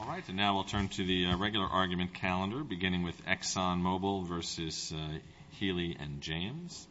Alright, so now we'll turn to the regular argument calendar, beginning with Exxon Mobil v. Healy & James.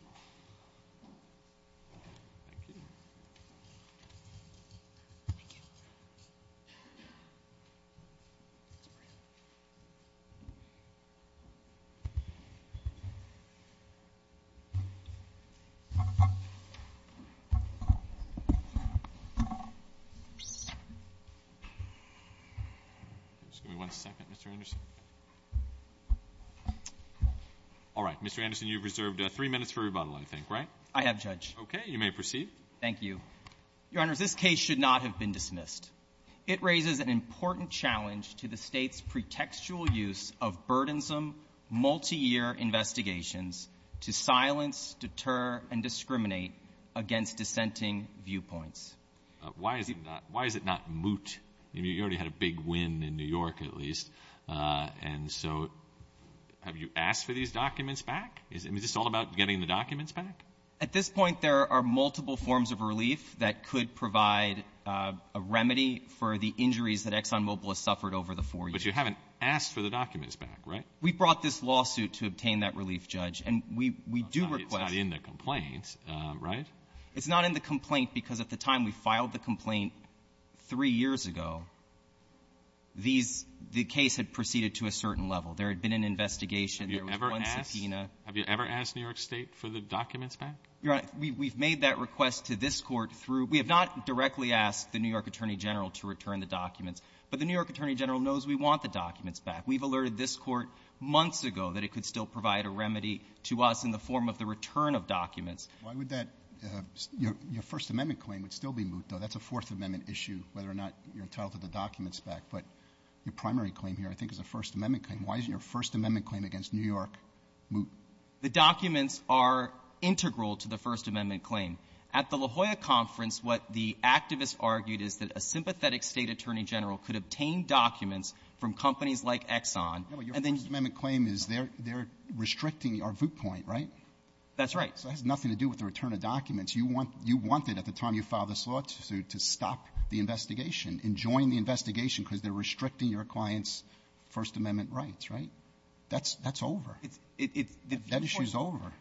Mr. Anderson, you've reserved three minutes for rebuttal, I think, right? I have, Judge. Okay, you may proceed. Thank you. Your Honors, this case should not have been dismissed. It raises an important challenge to the State's pretextual use of burdensome, multi-year investigations to silence, deter, and discriminate against dissenting viewpoints. Why is it not moot? You already had a big win in New York, at least, and so have you asked for these documents back? Is this all about getting the documents back? At this point, there are multiple forms of relief that could provide a remedy for the injuries that Exxon Mobil has suffered over the four years. But you haven't asked for the documents back, right? We brought this lawsuit to obtain that relief, Judge, and we do request It's not in the complaint, right? three years ago, the case had proceeded to a certain level. There had been an investigation. Have you ever asked New York State for the documents back? Your Honor, we've made that request to this Court through — we have not directly asked the New York Attorney General to return the documents, but the New York Attorney General knows we want the documents back. We've alerted this Court months ago that it could still provide a remedy to us in the form of the return of documents. Why would that — your First Amendment claim would still be moot, though. That's a Fourth Amendment issue, whether or not you're entitled to the documents back. But your primary claim here, I think, is a First Amendment claim. Why isn't your First Amendment claim against New York moot? The documents are integral to the First Amendment claim. At the La Jolla conference, what the activists argued is that a sympathetic State Attorney General could obtain documents from companies like Exxon — No, but your First Amendment claim is they're restricting our vote point, right? That's right. So it has nothing to do with the return of documents. You want — you wanted, at the time you filed this law, to stop the investigation and join the investigation because they're restricting your client's First Amendment rights, right? That's — that's over. It's — it's — That issue's over.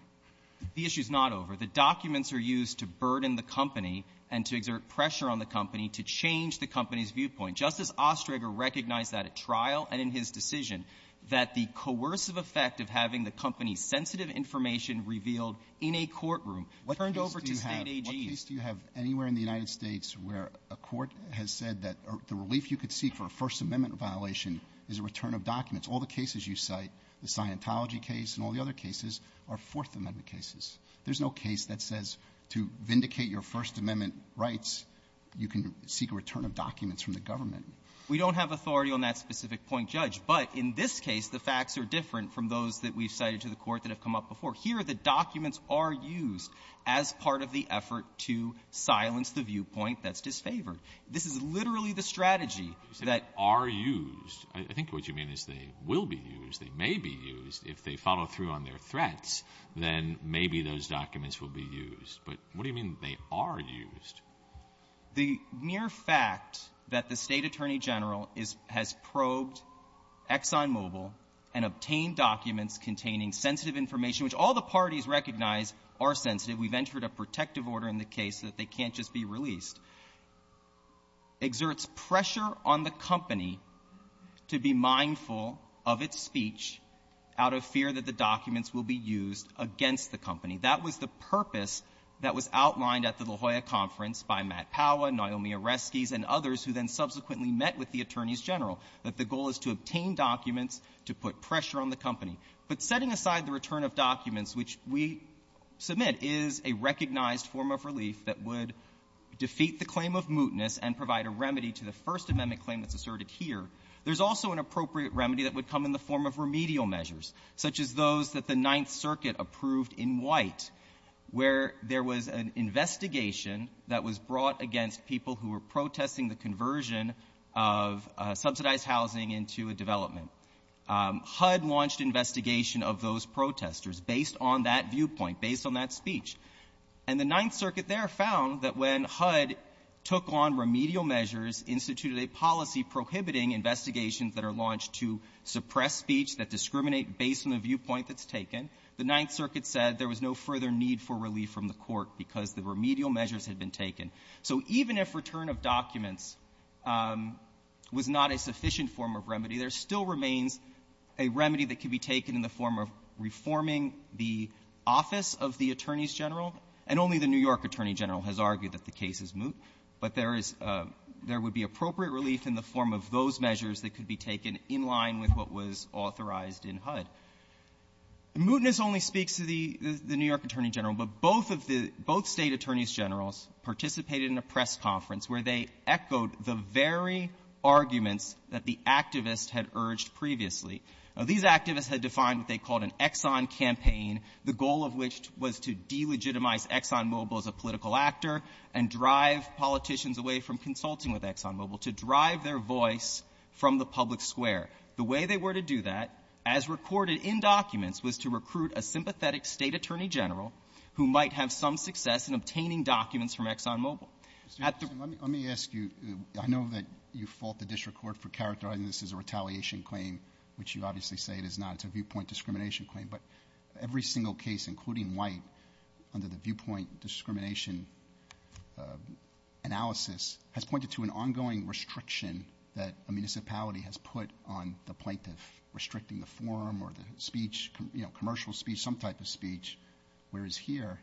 The issue's not over. The documents are used to burden the company and to exert pressure on the company to change the company's viewpoint. Justice Ostreger recognized that at trial and in his decision, that the coercive sensitive information revealed in a courtroom turned over to State AGs. What case do you have anywhere in the United States where a court has said that the relief you could seek for a First Amendment violation is a return of documents? All the cases you cite, the Scientology case and all the other cases, are Fourth Amendment cases. There's no case that says to vindicate your First Amendment rights, you can seek a return of documents from the government. We don't have authority on that specific point, Judge. But in this case, the facts are different from those that we've cited to the court that have come up before. Here, the documents are used as part of the effort to silence the viewpoint that's disfavored. This is literally the strategy that — You say are used. I think what you mean is they will be used, they may be used. If they follow through on their threats, then maybe those documents will be used. But what do you mean they are used? The mere fact that the State Attorney General has probed ExxonMobil and obtained documents containing sensitive information, which all the parties recognize are sensitive — we've entered a protective order in the case that they can't just be released — exerts pressure on the company to be mindful of its speech out of fear that the documents will be used against the company. That was the purpose that was outlined at the La Jolla conference by Matt Powa, Naomi Oreskes, and others who then subsequently met with the attorneys general, that the goal is to obtain documents to put pressure on the company. But setting aside the return of documents, which we submit is a recognized form of relief that would defeat the claim of mootness and provide a remedy to the First Amendment claim that's asserted here, there's also an appropriate remedy that would come in the form of remedial measures, such as those that the Ninth Circuit approved in White, where there was an investigation that was brought against people who were protesting the conversion of subsidized housing into a development. HUD launched an investigation of those protesters based on that viewpoint, based on that speech. And the Ninth Circuit there found that when HUD took on remedial measures, instituted a policy prohibiting investigations that are launched to suppress speech, that discriminate based on the viewpoint that's taken, the Ninth Circuit said there was no further need for relief from the Court because the remedial measures had been taken. So even if return of documents was not a sufficient form of remedy, there still remains a remedy that could be taken in the form of reforming the office of the attorneys general. And only the New York attorney general has argued that the case is moot, but there is there would be appropriate relief in the form of those measures that could be taken in line with what was authorized in HUD. Mootness only speaks to the New York attorney general, but both of the both State attorneys generals participated in a press conference where they echoed the very arguments that the activists had urged previously. Now, these activists had defined what they called an Exxon campaign, the goal of which was to delegitimize ExxonMobil as a political actor and drive politicians away from consulting with ExxonMobil, to drive their voice from the public square. The way they were to do that, as recorded in documents, was to recruit a sympathetic State attorney general who might have some success in obtaining documents from ExxonMobil. At the ---- Roberts. Let me ask you, I know that you fault the district court for characterizing this as a retaliation claim, which you obviously say it is not. It's a viewpoint discrimination claim. But every single case, including White, under the viewpoint discrimination analysis has pointed to an ongoing restriction that a municipality has put on the plaintiff, restricting the forum or the speech, you know, commercial speech, some type of speech. Whereas here,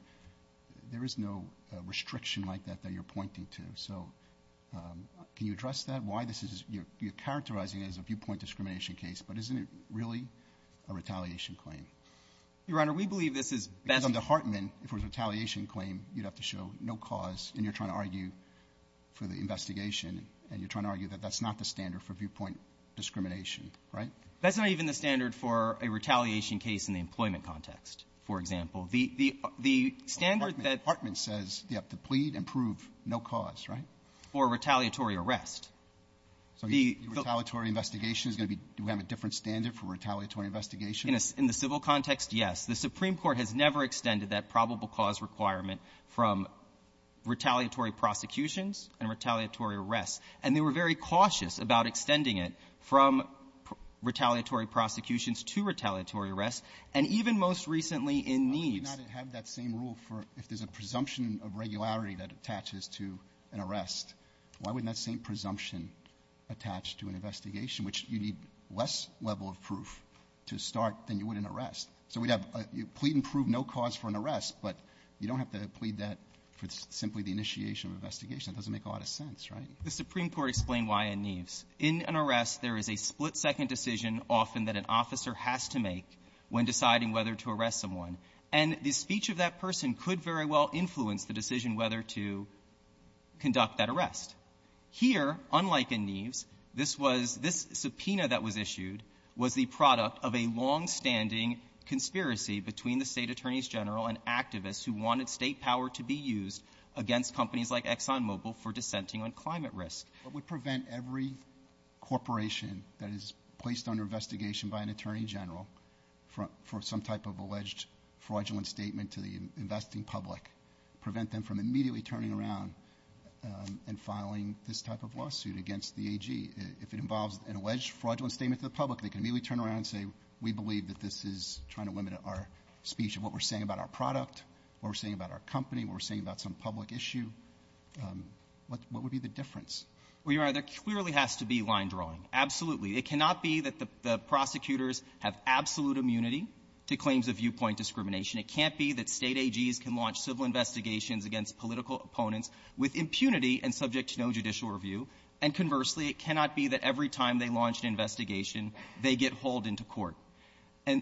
there is no restriction like that that you're pointing to. So can you address that, why this is you're characterizing it as a viewpoint discrimination case, but isn't it really a retaliation claim? Your Honor, we believe this is ---- Because under Hartman, if it was a retaliation claim, you'd have to show no cause, and you're trying to argue for the investigation, and you're trying to argue that that's not the standard for viewpoint discrimination, right? That's not even the standard for a retaliation case in the employment context, for example. The standard that ---- No cause, right? For a retaliatory arrest. So the retaliatory investigation is going to be do we have a different standard for retaliatory investigation? In the civil context, yes. The Supreme Court has never extended that probable cause requirement from retaliatory prosecutions and retaliatory arrests. And they were very cautious about extending it from retaliatory prosecutions to retaliatory arrests, and even most recently in Neves. rule for if there's a presumption of regularity that attaches to an arrest, why wouldn't that same presumption attach to an investigation, which you need less level of proof to start than you would in an arrest? So we'd have you plead and prove no cause for an arrest, but you don't have to plead that for simply the initiation of an investigation. It doesn't make a lot of sense, right? The Supreme Court explained why in Neves. In an arrest, there is a split-second decision often that an officer has to make when deciding whether to arrest someone. And the speech of that person could very well influence the decision whether to conduct that arrest. Here, unlike in Neves, this subpoena that was issued was the product of a longstanding conspiracy between the state attorneys general and activists who wanted state power to be used against companies like ExxonMobil for dissenting on climate risk. What would prevent every corporation that is placed under investigation by an attorney general for some type of alleged fraudulent statement to the investing public, prevent them from immediately turning around and filing this type of lawsuit against the AG? If it involves an alleged fraudulent statement to the public, they can immediately turn around and say, we believe that this is trying to limit our speech of what we're saying about our product, what we're saying about our company, what we're saying about some public issue, what would be the difference? Well, Your Honor, there clearly has to be line drawing. Absolutely. It cannot be that the prosecutors have absolute immunity to claims of viewpoint discrimination. It can't be that state AGs can launch civil investigations against political opponents with impunity and subject to no judicial review. And conversely, it cannot be that every time they launch an investigation, they get hauled into court. And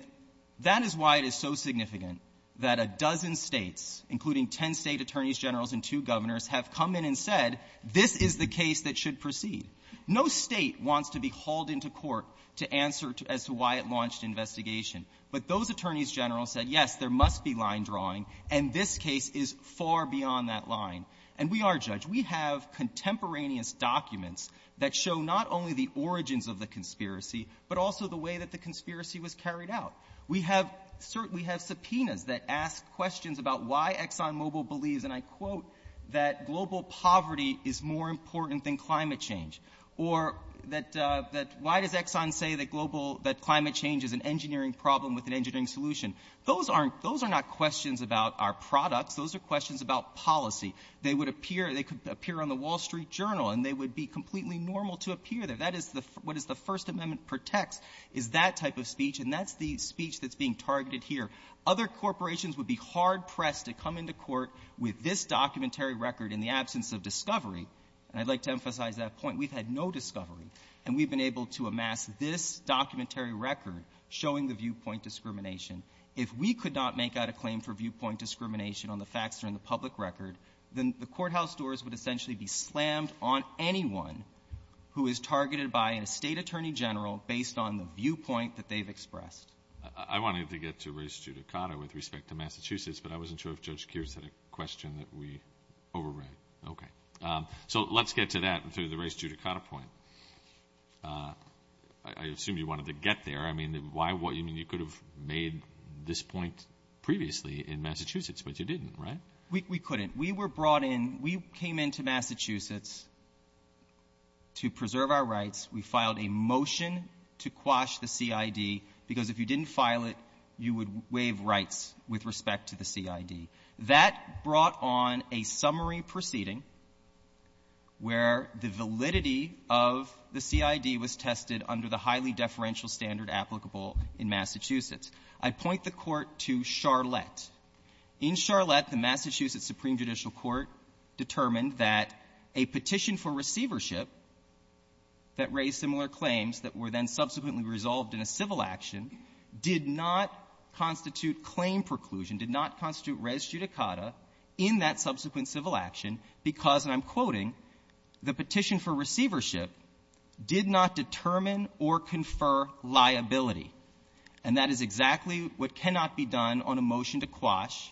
that is why it is so significant that a dozen States, including 10 State attorneys generals and two governors, have come in and said, this is the case that should proceed. No State wants to be hauled into court to answer as to why it launched an investigation. But those attorneys generals said, yes, there must be line drawing, and this case is far beyond that line. And we are, Judge. We have contemporaneous documents that show not only the origins of the conspiracy, but also the way that the conspiracy was carried out. We have subpoenas that ask questions about why ExxonMobil believes, and I quote, that global poverty is more important than climate change. Or why does Exxon say that climate change is an engineering problem with an engineering solution? Those are not questions about our products. Those are questions about policy. They would appear on the Wall Street Journal, and they would be completely normal to appear there. That is the — what is the First Amendment protects is that type of speech, and that's the speech that's being targeted here. Other corporations would be hard-pressed to come into court with this documentary record in the absence of discovery. And I'd like to emphasize that point. We've had no discovery. And we've been able to amass this documentary record showing the viewpoint discrimination. If we could not make out a claim for viewpoint discrimination on the facts or in the based on the viewpoint that they've expressed. I wanted to get to race judicata with respect to Massachusetts, but I wasn't sure if Judge Kears had a question that we overran. Okay. So let's get to that, to the race judicata point. I assume you wanted to get there. I mean, why — I mean, you could have made this point previously in Massachusetts, but you didn't, right? We couldn't. We were brought in — we came into Massachusetts to preserve our rights. We filed a motion to quash the CID, because if you didn't file it, you would waive rights with respect to the CID. That brought on a summary proceeding where the validity of the CID was tested under the highly deferential standard applicable in Massachusetts. I point the Court to Charlotte. In Charlotte, the Massachusetts Supreme Judicial Court determined that a petition for receivership that raised similar claims that were then subsequently resolved in a civil action did not constitute claim preclusion, did not constitute res judicata in that subsequent civil action, because, and I'm quoting, the petition for receivership did not determine or confer liability. And that is exactly what cannot be done on a motion to quash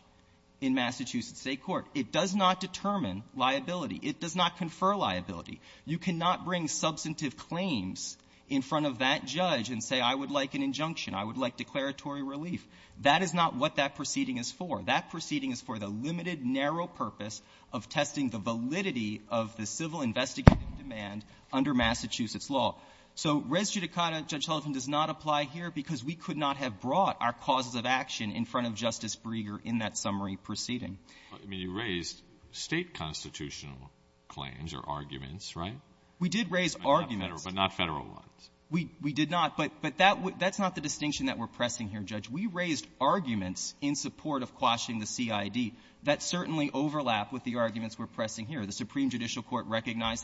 in Massachusetts State court. It does not determine liability. It does not confer liability. You cannot bring substantive claims in front of that judge and say, I would like an injunction, I would like declaratory relief. That is not what that proceeding is for. That proceeding is for the limited, narrow purpose of testing the validity of the civil investigative demand under Massachusetts law. So res judicata, Judge Sullivan, does not apply here because we could not have brought our causes of action in front of Justice Breger in that summary proceeding. I mean, you raised State constitutional claims or arguments, right? We did raise arguments. But not Federal ones. We did not. But that's not the distinction that we're pressing here, Judge. We raised arguments in support of quashing the CID that certainly overlap with the arguments we're pressing here. The Supreme Court's case is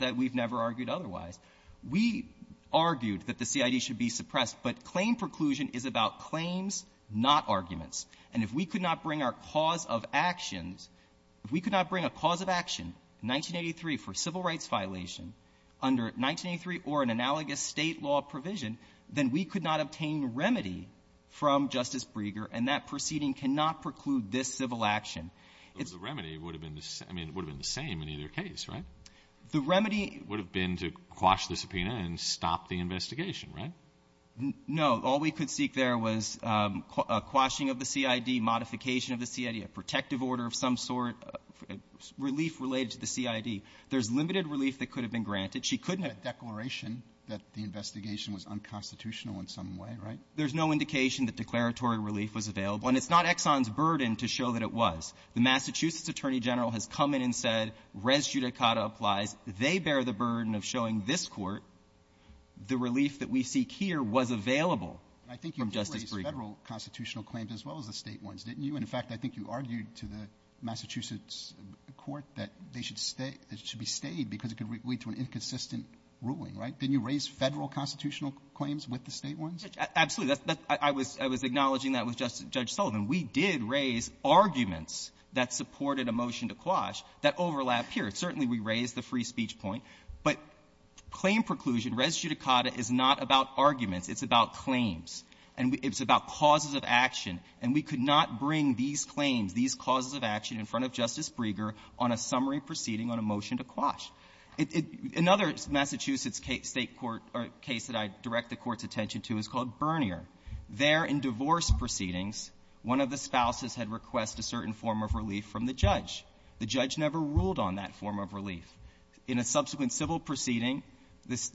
about claims, not arguments. And if we could not bring our cause of actions, if we could not bring a cause of action in 1983 for a civil rights violation under 1983 or an analogous State law provision, then we could not obtain remedy from Justice Breger, and that proceeding cannot preclude this civil action. It's the remedy would have been the same. I mean, it would have been the same in either case, right? The remedy would have been to quash the subpoena and stop the investigation, right? No. All we could seek there was a quashing of the CID, modification of the CID, a protective order of some sort, relief related to the CID. There's limited relief that could have been granted. She couldn't have been granted. A declaration that the investigation was unconstitutional in some way, right? There's no indication that declaratory relief was available. And it's not Exxon's burden to show that it was. The Massachusetts Attorney General has come in and said, res judicata applies. They bear the burden of showing this Court the relief that we seek here was available from Justice Breger. I think you did raise Federal constitutional claims as well as the State ones, didn't you? And, in fact, I think you argued to the Massachusetts Court that they should stay, that it should be stayed because it could lead to an inconsistent ruling, right? Didn't you raise Federal constitutional claims with the State ones? Absolutely. I was acknowledging that with Judge Sullivan. We did raise arguments that supported a motion to quash that overlap here. Certainly, we raised the free speech point. But claim preclusion, res judicata, is not about arguments. It's about claims. And it's about causes of action. And we could not bring these claims, these causes of action in front of Justice Breger on a summary proceeding on a motion to quash. Another Massachusetts State court or case that I direct the Court's attention to is called Bernier. There, in divorce proceedings, one of the spouses had requested a certain form of relief from the judge. The judge never ruled on that form of relief. In a subsequent civil proceeding,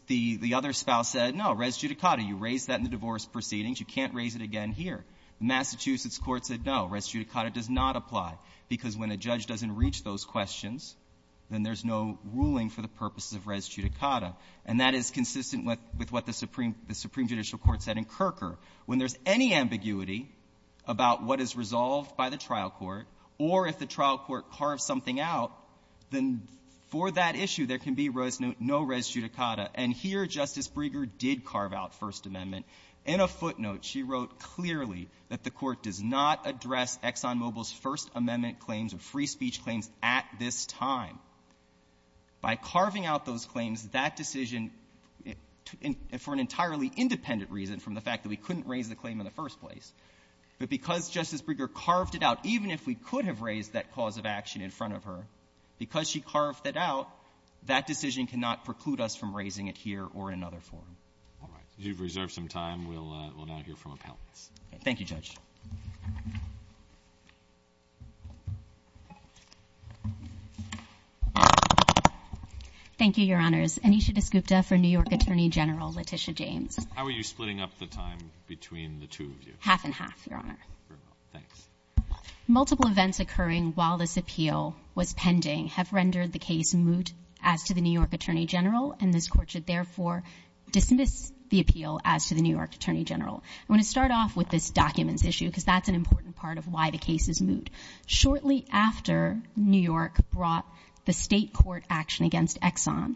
the other spouse said, no, res judicata, you raised that in the divorce proceedings, you can't raise it again here. The Massachusetts Court said, no, res judicata does not apply, because when a judge doesn't reach those questions, then there's no ruling for the purposes of res judicata. And that is consistent with what the Supreme Judicial Court said in Kerker. When there's any ambiguity about what is resolved by the trial court, or if the trial court carves something out, then for that issue, there can be no res judicata. And here, Justice Breger did carve out First Amendment. In a footnote, she wrote clearly that the Court does not address ExxonMobil's First Amendment claims or free that decision for an entirely independent reason from the fact that we couldn't raise the claim in the first place. But because Justice Breger carved it out, even if we could have raised that cause of action in front of her, because she carved it out, that decision cannot preclude us from raising it here or in another forum. All right. You've reserved some time. We'll now hear from appellants. Thank you, Judge. Thank you, Your Honors. Anisha Desgupta for New York Attorney General Letitia James. How are you splitting up the time between the two of you? Half and half, Your Honor. Very well. Thanks. Multiple events occurring while this appeal was pending have rendered the case moot as to the New York Attorney General, and this Court should therefore dismiss the appeal as to the New York Attorney General. I want to start off with this documents issue, because that's an important part of why the case is moot. Shortly after New York brought the state court action against Exxon,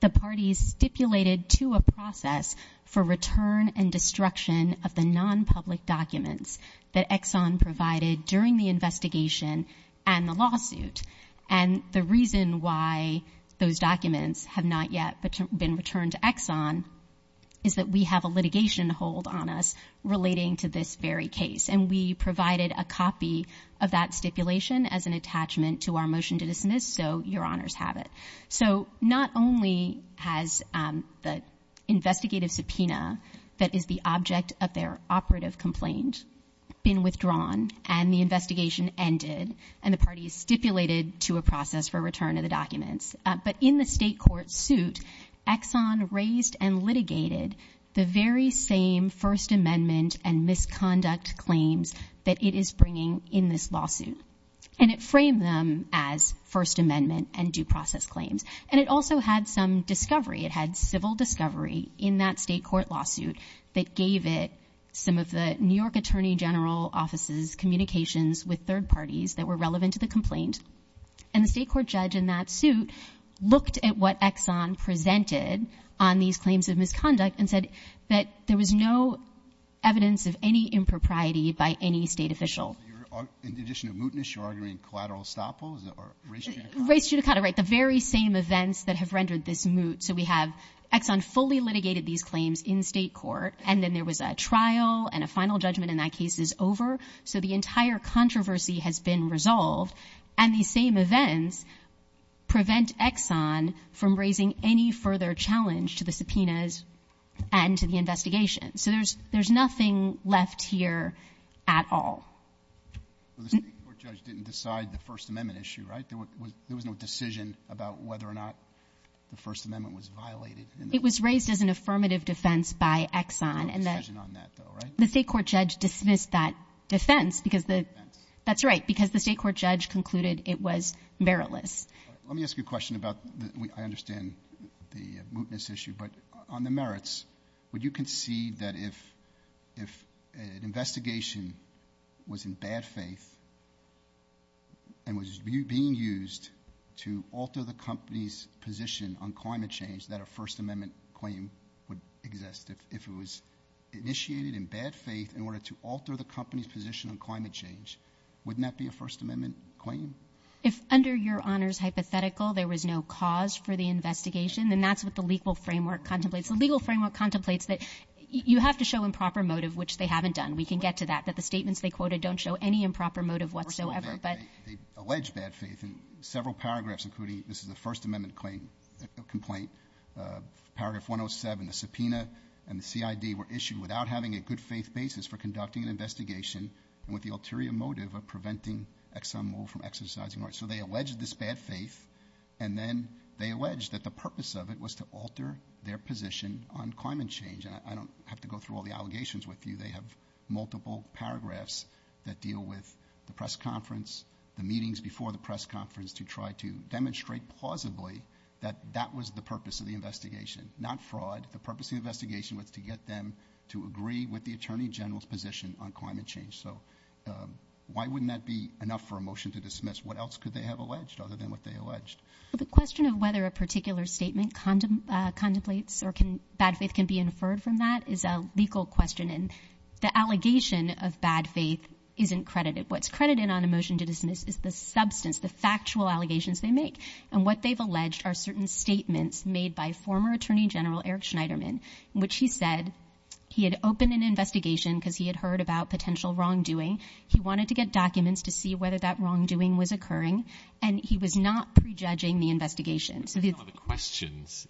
the parties stipulated to a process for return and destruction of the nonpublic documents that Exxon provided during the investigation and the lawsuit. And the reason why those documents have not yet been returned to Exxon is that we have a litigation to hold on us relating to this very case. And we provided a copy of that stipulation as an attachment to our motion to dismiss, so Your Honors have it. So not only has the investigative subpoena that is the object of their operative complaint been withdrawn and the investigation ended and the parties stipulated to a process for return of the documents, but in the state court suit, Exxon raised and litigated the very same First Amendment and misconduct claims that it is bringing in this lawsuit. And it framed them as First Amendment and due process claims. And it also had some discovery. It had civil discovery in that state court lawsuit that gave it some of the New York Attorney General Office's communications with third parties that were relevant to the complaint. And the state court judge in that suit looked at what Exxon presented on these claims of misconduct and said that there was no evidence of any impropriety by any state official. In addition to mootness, you're arguing collateral estoppel or race judicata? Race judicata, right, the very same events that have rendered this moot. So we have a trial and a final judgment in that case is over. So the entire controversy has been resolved. And these same events prevent Exxon from raising any further challenge to the subpoenas and to the investigation. So there's nothing left here at all. The state court judge didn't decide the First Amendment issue, right? There was no decision about whether or not the First Amendment was violated. It was raised as an affirmative defense by Exxon. There was no decision on that though, right? The state court judge dismissed that defense because the Defense. That's right, because the state court judge concluded it was meritless. Let me ask you a question about, I understand the mootness issue, but on the merits, would you concede that if an investigation was in bad faith and was being used to alter the company's position on climate change, that a First Amendment claim would exist? If it was initiated in bad faith in order to alter the company's position on climate change, wouldn't that be a First Amendment claim? If under your honors hypothetical, there was no cause for the investigation, then that's what the legal framework contemplates. The legal framework contemplates that you have to show improper motive, which they haven't done. We can get to that, that the statements they quoted don't show any improper motive whatsoever. They allege bad faith in several paragraphs, including, this is a First Amendment complaint, paragraph 107, the subpoena and the CID were issued without having a good faith basis for conducting an investigation and with the ulterior motive of preventing ExxonMobil from exercising rights. So they allege this bad faith and then they allege that the purpose of it was to alter their position on climate change. I don't have to go through all the allegations with you. They have multiple paragraphs that deal with the press conference, the meetings before the press conference to try to demonstrate plausibly that that was the purpose of the investigation, not fraud. The purpose of the investigation was to get them to agree with the Attorney General's position on climate change. So why wouldn't that be enough for a motion to dismiss? What else could they have alleged other than what they alleged? The question of whether a particular statement contemplates or bad faith can be inferred from that is a legal question. And the allegation of bad faith isn't credited. What's credited on a motion to dismiss is the substance, the factual allegations they make. And what they've alleged are certain statements made by former Attorney General Eric Schneiderman, in which he said he had opened an investigation because he had heard about potential wrongdoing. He wanted to get documents to see whether that wrongdoing was occurring, and he was not prejudging the investigation. The questions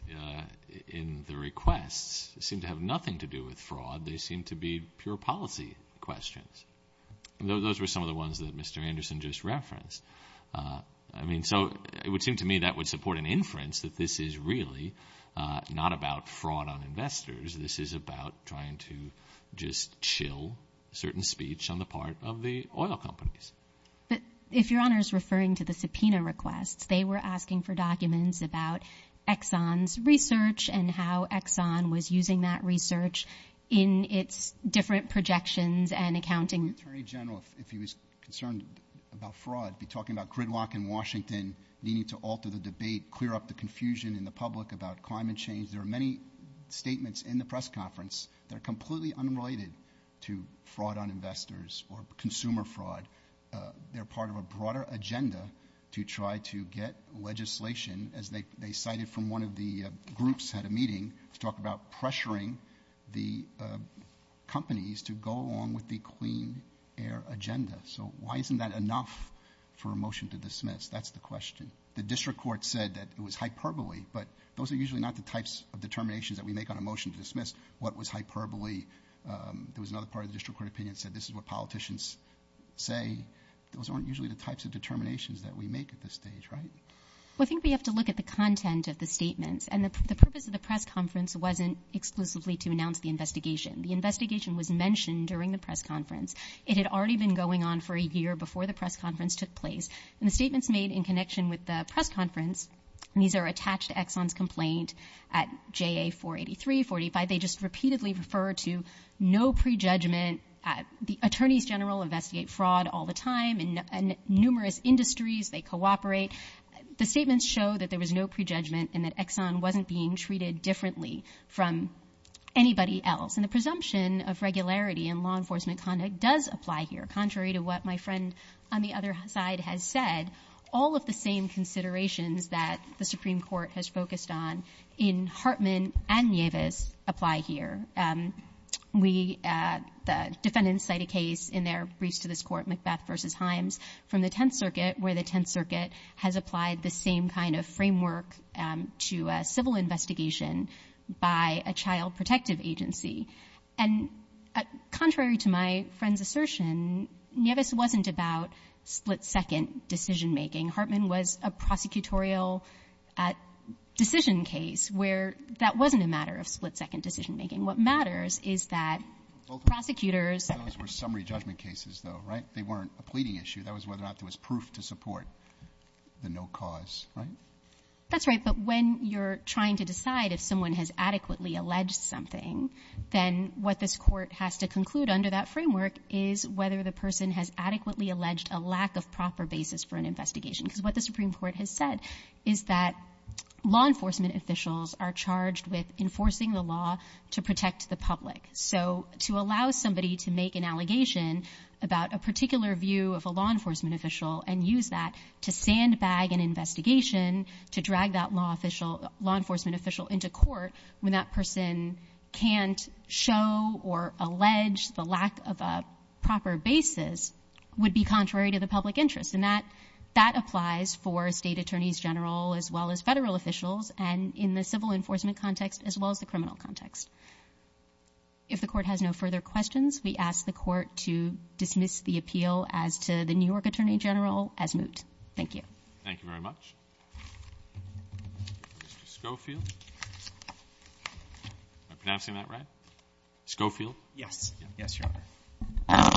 in the requests seem to have nothing to do with fraud. They seem to be pure policy questions. Those were some of the ones that Mr. Anderson just referenced. I mean, so it would seem to me that would support an inference that this is really not about fraud on investors. This is about trying to just chill certain speech on the part of the oil companies. But if Your Honor is referring to the subpoena requests, they were asking for documents about Exxon's research and how Exxon was using that research in its different projections and accounting. Would the Attorney General, if he was concerned about fraud, be talking about gridlock in Washington, needing to alter the debate, clear up the confusion in the public about climate change? There are many statements in the press conference that are completely unrelated to fraud on investors or consumer fraud. They're part of a broader agenda to try to get legislation, as they cited from one of the groups at a meeting, to talk about pressuring the companies to go along with the clean air agenda. So why isn't that enough for a motion to dismiss? That's the question. The district court said that it was hyperbole, but those are usually not the types of determinations that we make on a motion to dismiss. What was hyperbole? There was another part of the district court opinion that said this is what politicians say. Those aren't usually the types of determinations that we make at this stage, right? Well, I think we have to look at the content of the statements. And the purpose of the press conference wasn't exclusively to announce the investigation. The investigation was mentioned during the press conference. It had already been going on for a year before the press conference took place. And the statements made in connection with the press conference, and these are attached to Exxon's complaint at JA 483, 45, they just repeatedly refer to no prejudgment. The attorneys general investigate fraud all the time in numerous industries. They cooperate. The statements show that there was no prejudgment and that Exxon wasn't being treated differently from anybody else. And the presumption of regularity in law enforcement conduct does apply here. Contrary to what my friend on the other side has said, all of the same considerations that the Supreme Court has focused on in this case do apply here. We, the defendants cite a case in their briefs to this Court, Macbeth v. Himes, from the Tenth Circuit where the Tenth Circuit has applied the same kind of framework to a civil investigation by a child protective agency. And contrary to my friend's assertion, Nieves wasn't about split-second decision-making. Hartman was a prosecutorial decision case where that wasn't a matter of split- second decision-making. What matters is that prosecutors — Those were summary judgment cases, though, right? They weren't a pleading issue. That was whether or not there was proof to support the no cause, right? That's right. But when you're trying to decide if someone has adequately alleged something, then what this Court has to conclude under that framework is whether the person has adequately alleged a lack of proper basis for an investigation. Because what the Supreme Court has said is that law enforcement officials are charged with enforcing the law to protect the public. So to allow somebody to make an allegation about a particular view of a law enforcement official and use that to sandbag an investigation, to drag that law enforcement official into court when that person can't show or allege the lack of a proper basis would be contrary to the public interest. And that applies for state attorneys general as well as federal officials. And in the civil enforcement context as well as the criminal context. If the Court has no further questions, we ask the Court to dismiss the appeal as to the New York attorney general as moot. Thank you. Thank you very much. Mr. Schofield? Am I pronouncing that right? Schofield? Yes. Yes, Your Honor.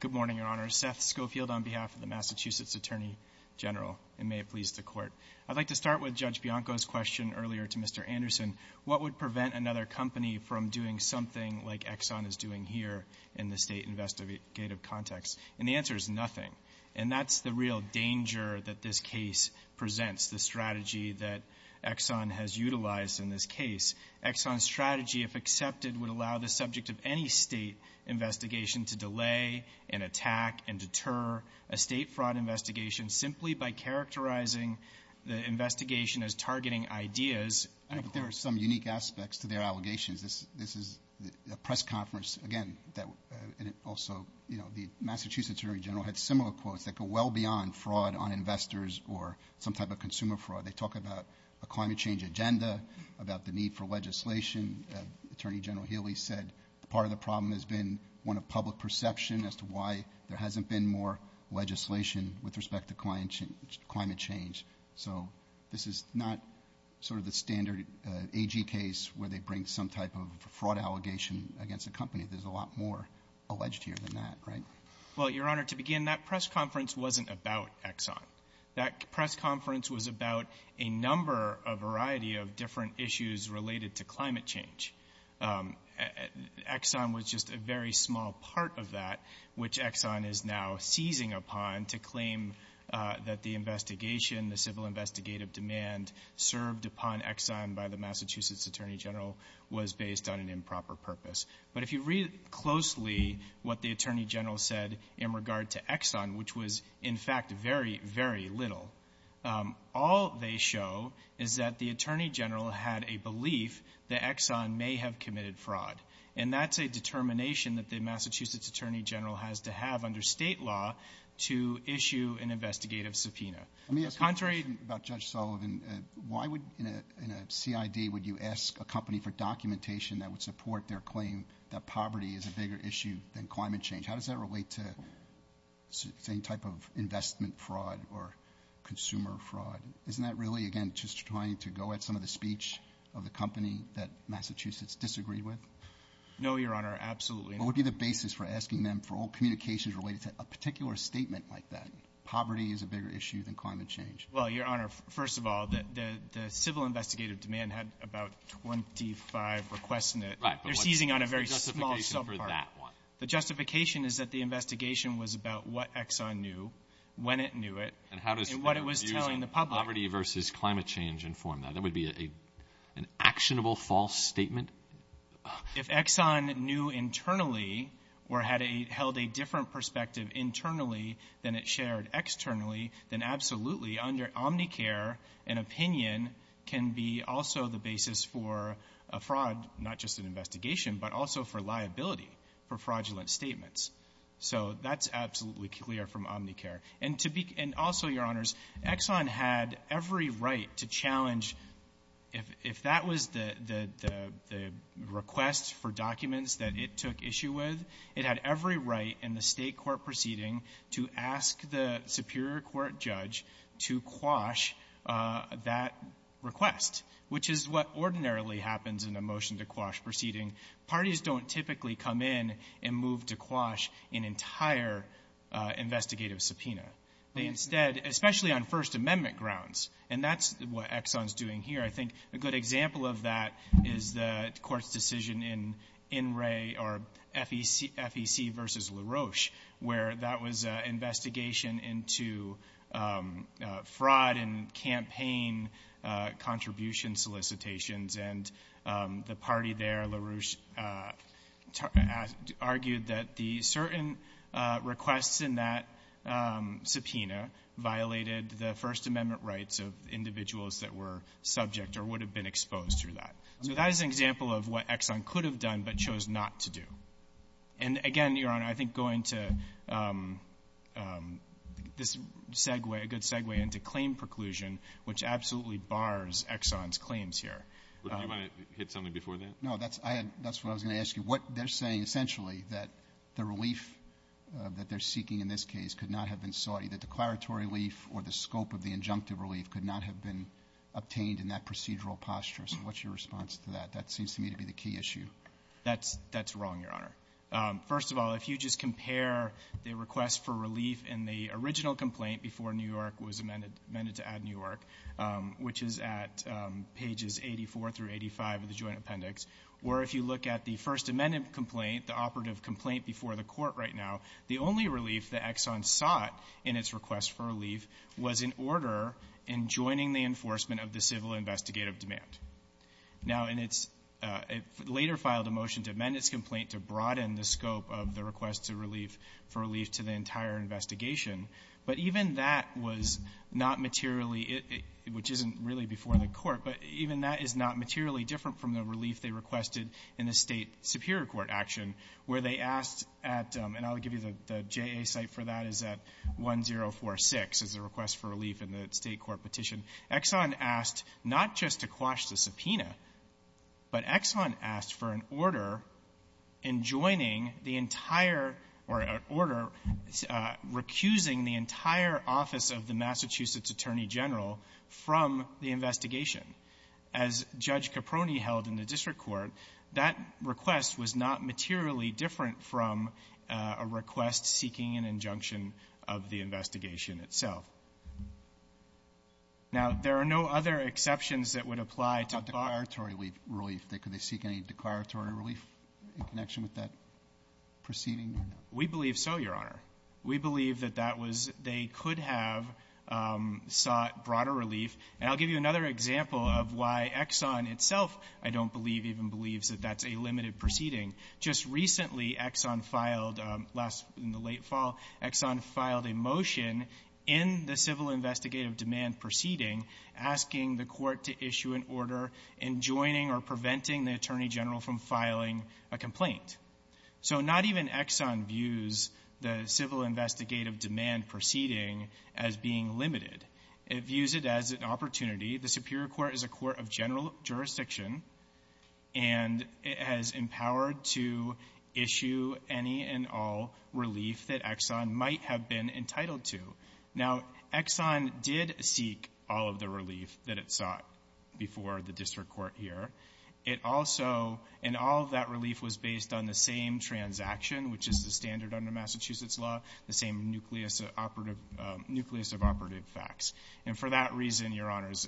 Good morning, Your Honor. Seth Schofield on behalf of the Massachusetts attorney general. And may it please the Court. I'd like to start with Judge Bianco's question earlier to Mr. Anderson. What would prevent another company from doing something like Exxon is doing here in the state investigative context? And the answer is nothing. And that's the real danger that this case presents, the strategy that Exxon has utilized in this case. Exxon's strategy, if accepted, would allow the subject of any state investigation to delay and attack and deter a state fraud investigation simply by characterizing the investigation as targeting ideas. But there are some unique aspects to their allegations. This is a press conference, again, that also the Massachusetts attorney general had similar quotes that go well beyond fraud on investors or some type of consumer fraud. They talk about a climate change agenda, about the need for legislation. Attorney General Healy said part of the problem has been one of public perception as to why there hasn't been more legislation with respect to climate change. So this is not sort of the standard AG case where they bring some type of fraud allegation against a company. There's a lot more alleged here than that, right? Well, Your Honor, to begin, that press conference wasn't about Exxon. That press conference was about a number, a variety of different issues related to climate change. Exxon was just a very small part of that, which Exxon is now seizing upon to claim that the investigation, the civil investigative demand served upon Exxon by the Massachusetts attorney general was based on an improper purpose. But if you read closely what the attorney general said in regard to Exxon, which was, in fact, very, very little, all they show is that the attorney general had a belief that Exxon may have committed fraud. And that's a determination that the Massachusetts attorney general has to have under state law to issue an investigative subpoena. Let me ask you a question about Judge Sullivan. Why would, in a CID, would you ask a company for documentation that would support their claim that poverty is a bigger issue than climate change? How does that relate to, say, type of investment fraud or consumer fraud? Isn't that really, again, just trying to go at some of the speech of the company that Massachusetts disagreed with? No, Your Honor. Absolutely not. What would be the basis for asking them for all communications related to a particular statement like that, poverty is a bigger issue than climate change? Well, Your Honor, first of all, the civil investigative demand had about 25 requests in it. Right. They're seizing on a very small subpart. But what's the justification for that one? The justification is that the investigation was about what Exxon knew, when it knew it, and what it was telling the public. How does poverty versus climate change inform that? That would be an actionable false statement? If Exxon knew internally or held a different perspective internally than it shared externally, then absolutely, under Omnicare, an opinion can be also the basis for a fraud, not just an investigation, but also for liability for fraudulent statements. So that's absolutely clear from Omnicare. And also, Your Honors, Exxon had every right to challenge, if that was the request for documents that it took issue with, it had every right in the state court proceeding to ask the superior court judge to quash that request, which is what ordinarily happens in a motion to quash proceeding. Parties don't typically come in and move to quash an entire investigative subpoena. They instead, especially on First Amendment grounds, and that's what Exxon's doing here, I think a good example of that is the court's decision in In Re or FEC versus LaRoche, where that was an investigation into fraud and campaign contributions solicitations. And the party there, LaRoche, argued that the certain requests in that subpoena violated the First Amendment rights of individuals that were subject or would have been exposed through that. So that is an example of what Exxon could have done but chose not to do. And again, Your Honor, I think going to this segue, a good segue into claim preclusion, which absolutely bars Exxon's claims here. Do you want to hit something before that? No. That's what I was going to ask you. What they're saying essentially that the relief that they're seeking in this case could not have been sought, either declaratory relief or the scope of the injunctive relief could not have been obtained in that procedural posture. So what's your response to that? That seems to me to be the key issue. That's wrong, Your Honor. First of all, if you just compare the request for relief in the original complaint before New York was amended to add New York, which is at pages 84 through 85 of the Joint Appendix, or if you look at the First Amendment complaint, the operative complaint before the Court right now, the only relief that Exxon sought in its request for relief was in order in joining the enforcement of the civil investigative demand. Now, in its — it later filed a motion to amend its complaint to broaden the scope of the request to relief — for relief to the entire investigation. But even that was not materially — which isn't really before the Court, but even that is not materially different from the relief they requested in the State Superior Court action, where they asked at — and I'll give you the JA site for that is at 1046 is the request for relief in the State court petition. Exxon asked not just to quash the subpoena, but Exxon asked for an order in joining the entire — or an order recusing the entire office of the Massachusetts Attorney General from the investigation. As Judge Caproni held in the district court, that request was not materially different from a request seeking an injunction of the investigation itself. Now, there are no other exceptions that would apply to — But what about declaratory relief? Could they seek any declaratory relief in connection with that proceeding? We believe so, Your Honor. We believe that that was — they could have sought broader relief. And I'll give you another example of why Exxon itself, I don't believe, even believes that that's a limited proceeding. Just recently, Exxon filed — last — in the late fall, Exxon filed a motion in the or preventing the Attorney General from filing a complaint. So not even Exxon views the civil investigative demand proceeding as being limited. It views it as an opportunity. The Superior Court is a court of general jurisdiction, and it has empowered to issue any and all relief that Exxon might have been entitled to. Now, Exxon did seek all of the relief that it sought before the district court here. It also — and all of that relief was based on the same transaction, which is the standard under Massachusetts law, the same nucleus of operative facts. And for that reason, Your Honors,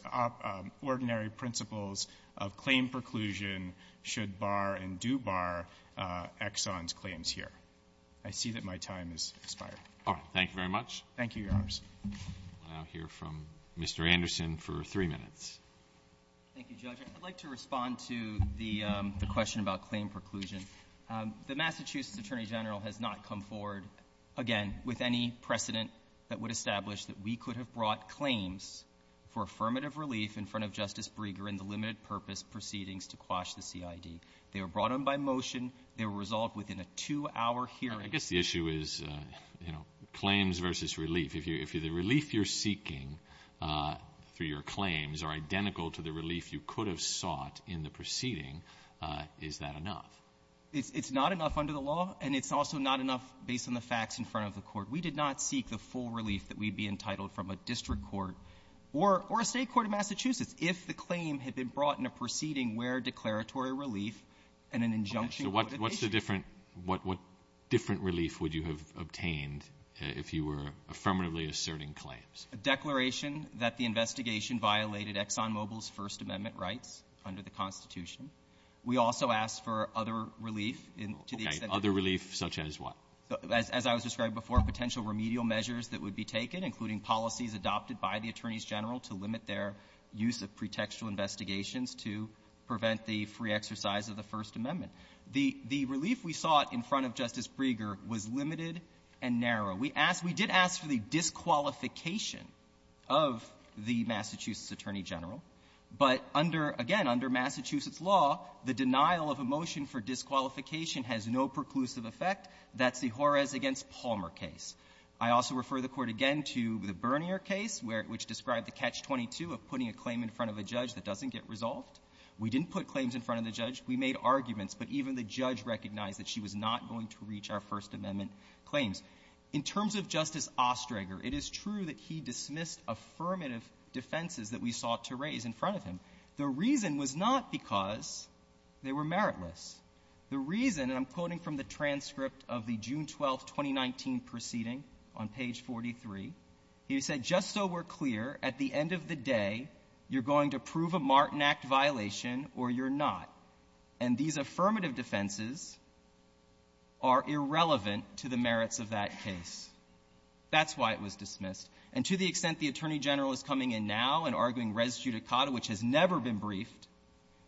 ordinary principles of claim preclusion should bar and do bar Exxon's claims here. I see that my time has expired. Thank you, Your Honors. I'll now hear from Mr. Anderson for three minutes. Thank you, Judge. I'd like to respond to the question about claim preclusion. The Massachusetts Attorney General has not come forward, again, with any precedent that would establish that we could have brought claims for affirmative relief in front of Justice Breger in the limited-purpose proceedings to quash the CID. They were brought in by motion. They were resolved within a two-hour hearing. I guess the issue is, you know, claims versus relief. If the relief you're seeking through your claims are identical to the relief you could have sought in the proceeding, is that enough? It's not enough under the law, and it's also not enough based on the facts in front of the court. We did not seek the full relief that we'd be entitled from a district court or a State court of Massachusetts if the claim had been brought in a proceeding where declaratory relief and an injunction would have been issued. Okay. So what's the different – what different relief would you have obtained if you were affirmatively asserting claims? A declaration that the investigation violated ExxonMobil's First Amendment rights under the Constitution. We also asked for other relief in – to the extent that – Okay. Other relief such as what? As I was describing before, potential remedial measures that would be taken, including policies adopted by the attorneys general to limit their use of pretextual investigations to prevent the free exercise of the First Amendment. The – the relief we sought in front of Justice Breger was limited and narrow. We asked – we did ask for the disqualification of the Massachusetts attorney general, but under – again, under Massachusetts law, the denial of a motion for disqualification has no preclusive effect. That's the Jorrez v. Palmer case. I also refer the Court again to the Bernier case, where – which described the catch-22 of putting a claim in front of a judge that doesn't get resolved. We didn't put claims in front of the judge. We made arguments, but even the judge recognized that she was not going to reach our First Amendment claims. In terms of Justice Oestreger, it is true that he dismissed affirmative defenses that we sought to raise in front of him. The reason was not because they were meritless. The reason – and I'm quoting from the transcript of the June 12, 2019, proceeding on page 43. He said, just so we're clear, at the end of the day, you're going to prove a Martin Act violation or you're not. And these affirmative defenses are irrelevant to the merits of that case. That's why it was dismissed. And to the extent the attorney general is coming in now and arguing res judicata, which has never been briefed,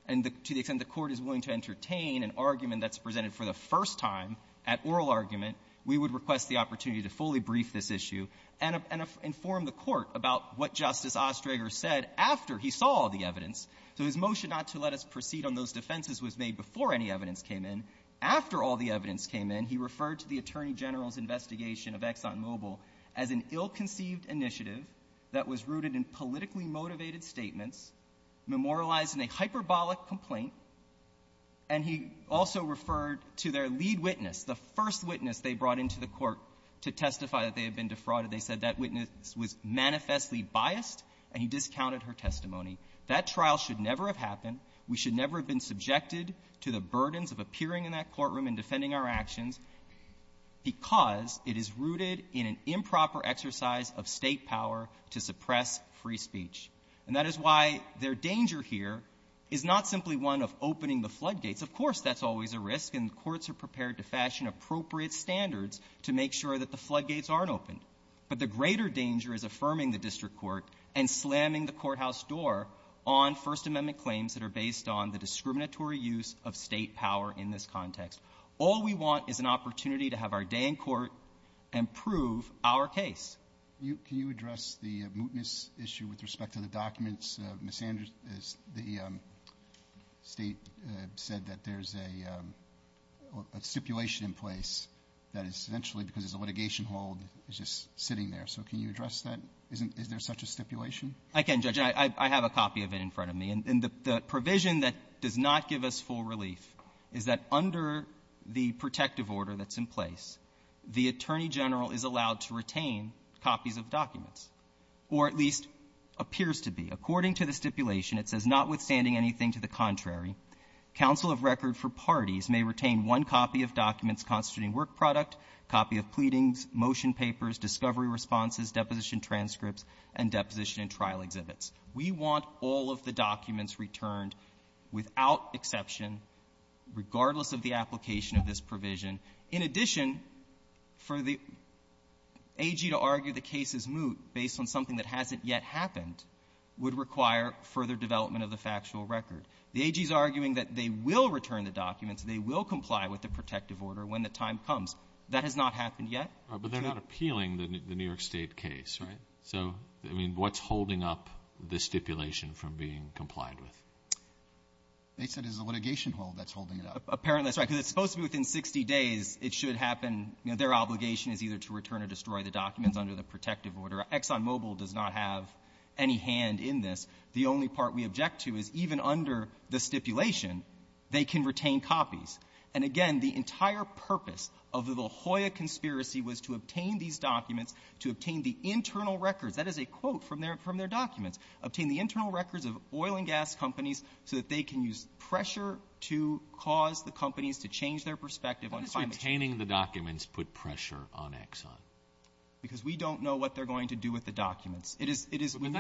and to the extent the Court is willing to entertain an argument that's presented for the first time at oral argument, we would request the opportunity to fully brief this issue and inform the Court about what Justice Oestreger said after he saw all the evidence. So his motion not to let us proceed on those defenses was made before any evidence came in. After all the evidence came in, he referred to the attorney general's investigation of ExxonMobil as an ill-conceived initiative that was rooted in politically motivated statements, memorializing a hyperbolic complaint, and he also referred to their lead witness, the first witness they brought into the Court to testify that they had been defrauded. They said that witness was manifestly biased, and he discounted her testimony. That trial should never have happened. We should never have been subjected to the burdens of appearing in that courtroom and defending our actions because it is rooted in an improper exercise of State power to suppress free speech. And that is why their danger here is not simply one of opening the floodgates. Of course, that's always a risk, and the courts are prepared to fashion appropriate standards to make sure that the floodgates aren't opened. But the greater danger is affirming the district court and slamming the courthouse door on First Amendment claims that are based on the discriminatory use of State power in this context. All we want is an opportunity to have our day in court and prove our case. Roberts. Can you address the mootness issue with respect to the documents? Ms. Sanders, the State said that there's a stipulation in place that is essentially because it's a litigation hold, it's just sitting there. So can you address that? Is there such a stipulation? I can, Judge. I have a copy of it in front of me. And the provision that does not give us full relief is that under the protective order that's in place, the Attorney General is allowed to retain copies of documents, or at least appears to be. According to the stipulation, it says, notwithstanding anything to the contrary, counsel of record for parties may retain one copy of documents constituting work product, copy of pleadings, motion papers, discovery responses, deposition transcripts, and deposition in trial exhibits. We want all of the documents returned without exception, regardless of the application of this provision. In addition, for the AG to argue the case is moot based on something that hasn't yet happened would require further development of the factual record. The AG is arguing that they will return the documents, they will comply with the protective order when the time comes. That has not happened yet. But they're not appealing the New York State case, right? So, I mean, what's holding up the stipulation from being complied with? They said it's a litigation hold that's holding it up. Apparently, that's right. Because it's supposed to be within 60 days, it should happen. You know, their obligation is either to return or destroy the documents under the protective order. ExxonMobil does not have any hand in this. The only part we object to is even under the stipulation, they can retain copies. And again, the objective is to obtain these documents, to obtain the internal records, that is a quote from their documents, obtain the internal records of oil and gas companies so that they can use pressure to cause the companies to change their perspective on climate change. What does retaining the documents put pressure on Exxon? Because we don't know what they're going to do with the documents. It is we're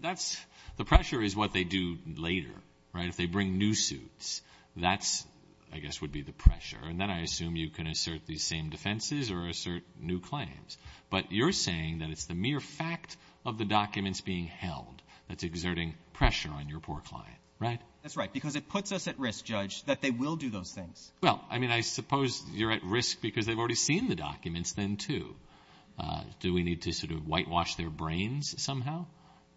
That's the pressure is what they do later, right? If they bring new suits, that's, I guess, would be the pressure. And then I assume you can assert these same defenses or assert new claims. But you're saying that it's the mere fact of the documents being held that's exerting pressure on your poor client, right? That's right. Because it puts us at risk, Judge, that they will do those things. Well, I mean, I suppose you're at risk because they've already seen the documents then, too. Do we need to sort of whitewash their brains somehow?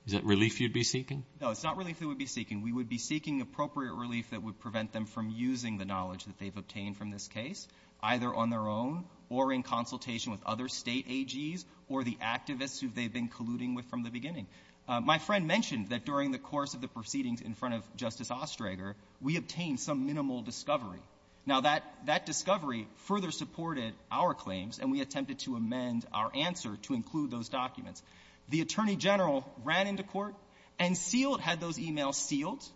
Is that relief you'd be seeking? No, it's not relief they would be seeking. We would be seeking appropriate relief that would prevent them from using the knowledge that they've obtained from this case, either on their own or in consultation with other state AGs or the activists who they've been colluding with from the beginning. My friend mentioned that during the course of the proceedings in front of Justice Oestreger, we obtained some minimal discovery. Now, that discovery further supported our claims, and we attempted to amend our answer to include those documents. The Attorney General ran into court and sealed, had those activists,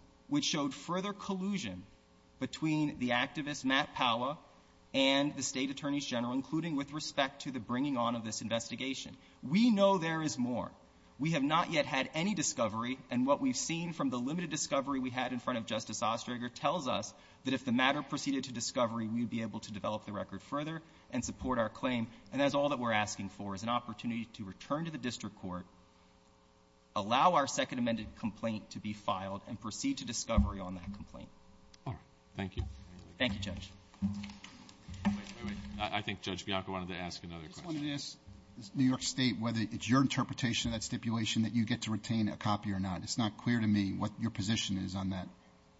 Matt Powa, and the State Attorneys General, including with respect to the bringing on of this investigation. We know there is more. We have not yet had any discovery, and what we've seen from the limited discovery we had in front of Justice Oestreger tells us that if the matter proceeded to discovery, we would be able to develop the record further and support our claim. And that's all that we're asking for, is an opportunity to return to the district court, allow our claim. All right. Thank you. Thank you, Judge. Wait, wait, wait. I think Judge Bianco wanted to ask another question. I just wanted to ask New York State whether it's your interpretation of that stipulation that you get to retain a copy or not. It's not clear to me what your position is on that. To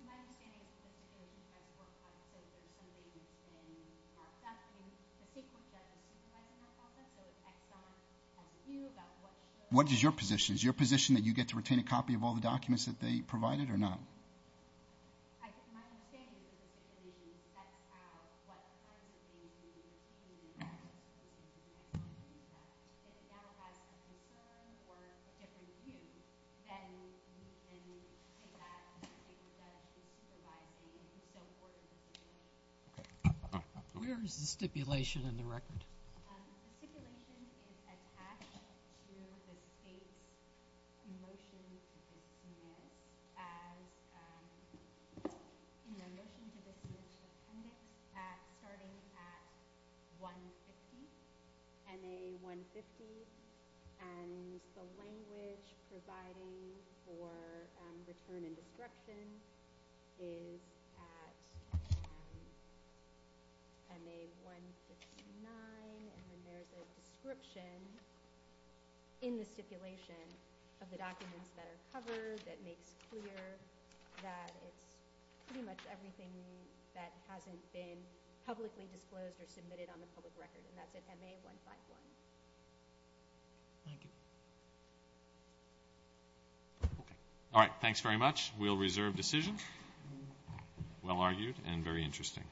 my understanding, it's a stipulation by the court, so there's some reason to say that the state court doesn't stipulate in their process, so it's exon Q about what should or should not be. What is your position? Is your position that you get to retain a copy of all the documents that they provided or not? To my understanding, it's a stipulation that sets out what part of the claim you need to retain a copy. If it now has a concern or a different use, then you can take that and take it back to supervising and so forth. Okay. Where is the stipulation in the record? The stipulation is attached to the state's motion to dismiss as in the motion to dismiss starting at 150, MA 150, and the language providing for return and description in the stipulation of the documents that are covered that makes clear that it's pretty much everything that hasn't been publicly disclosed or submitted on the public record, and that's at MA 151. Thank you. All right. Thanks very much. We'll reserve decision. Well argued and very interesting.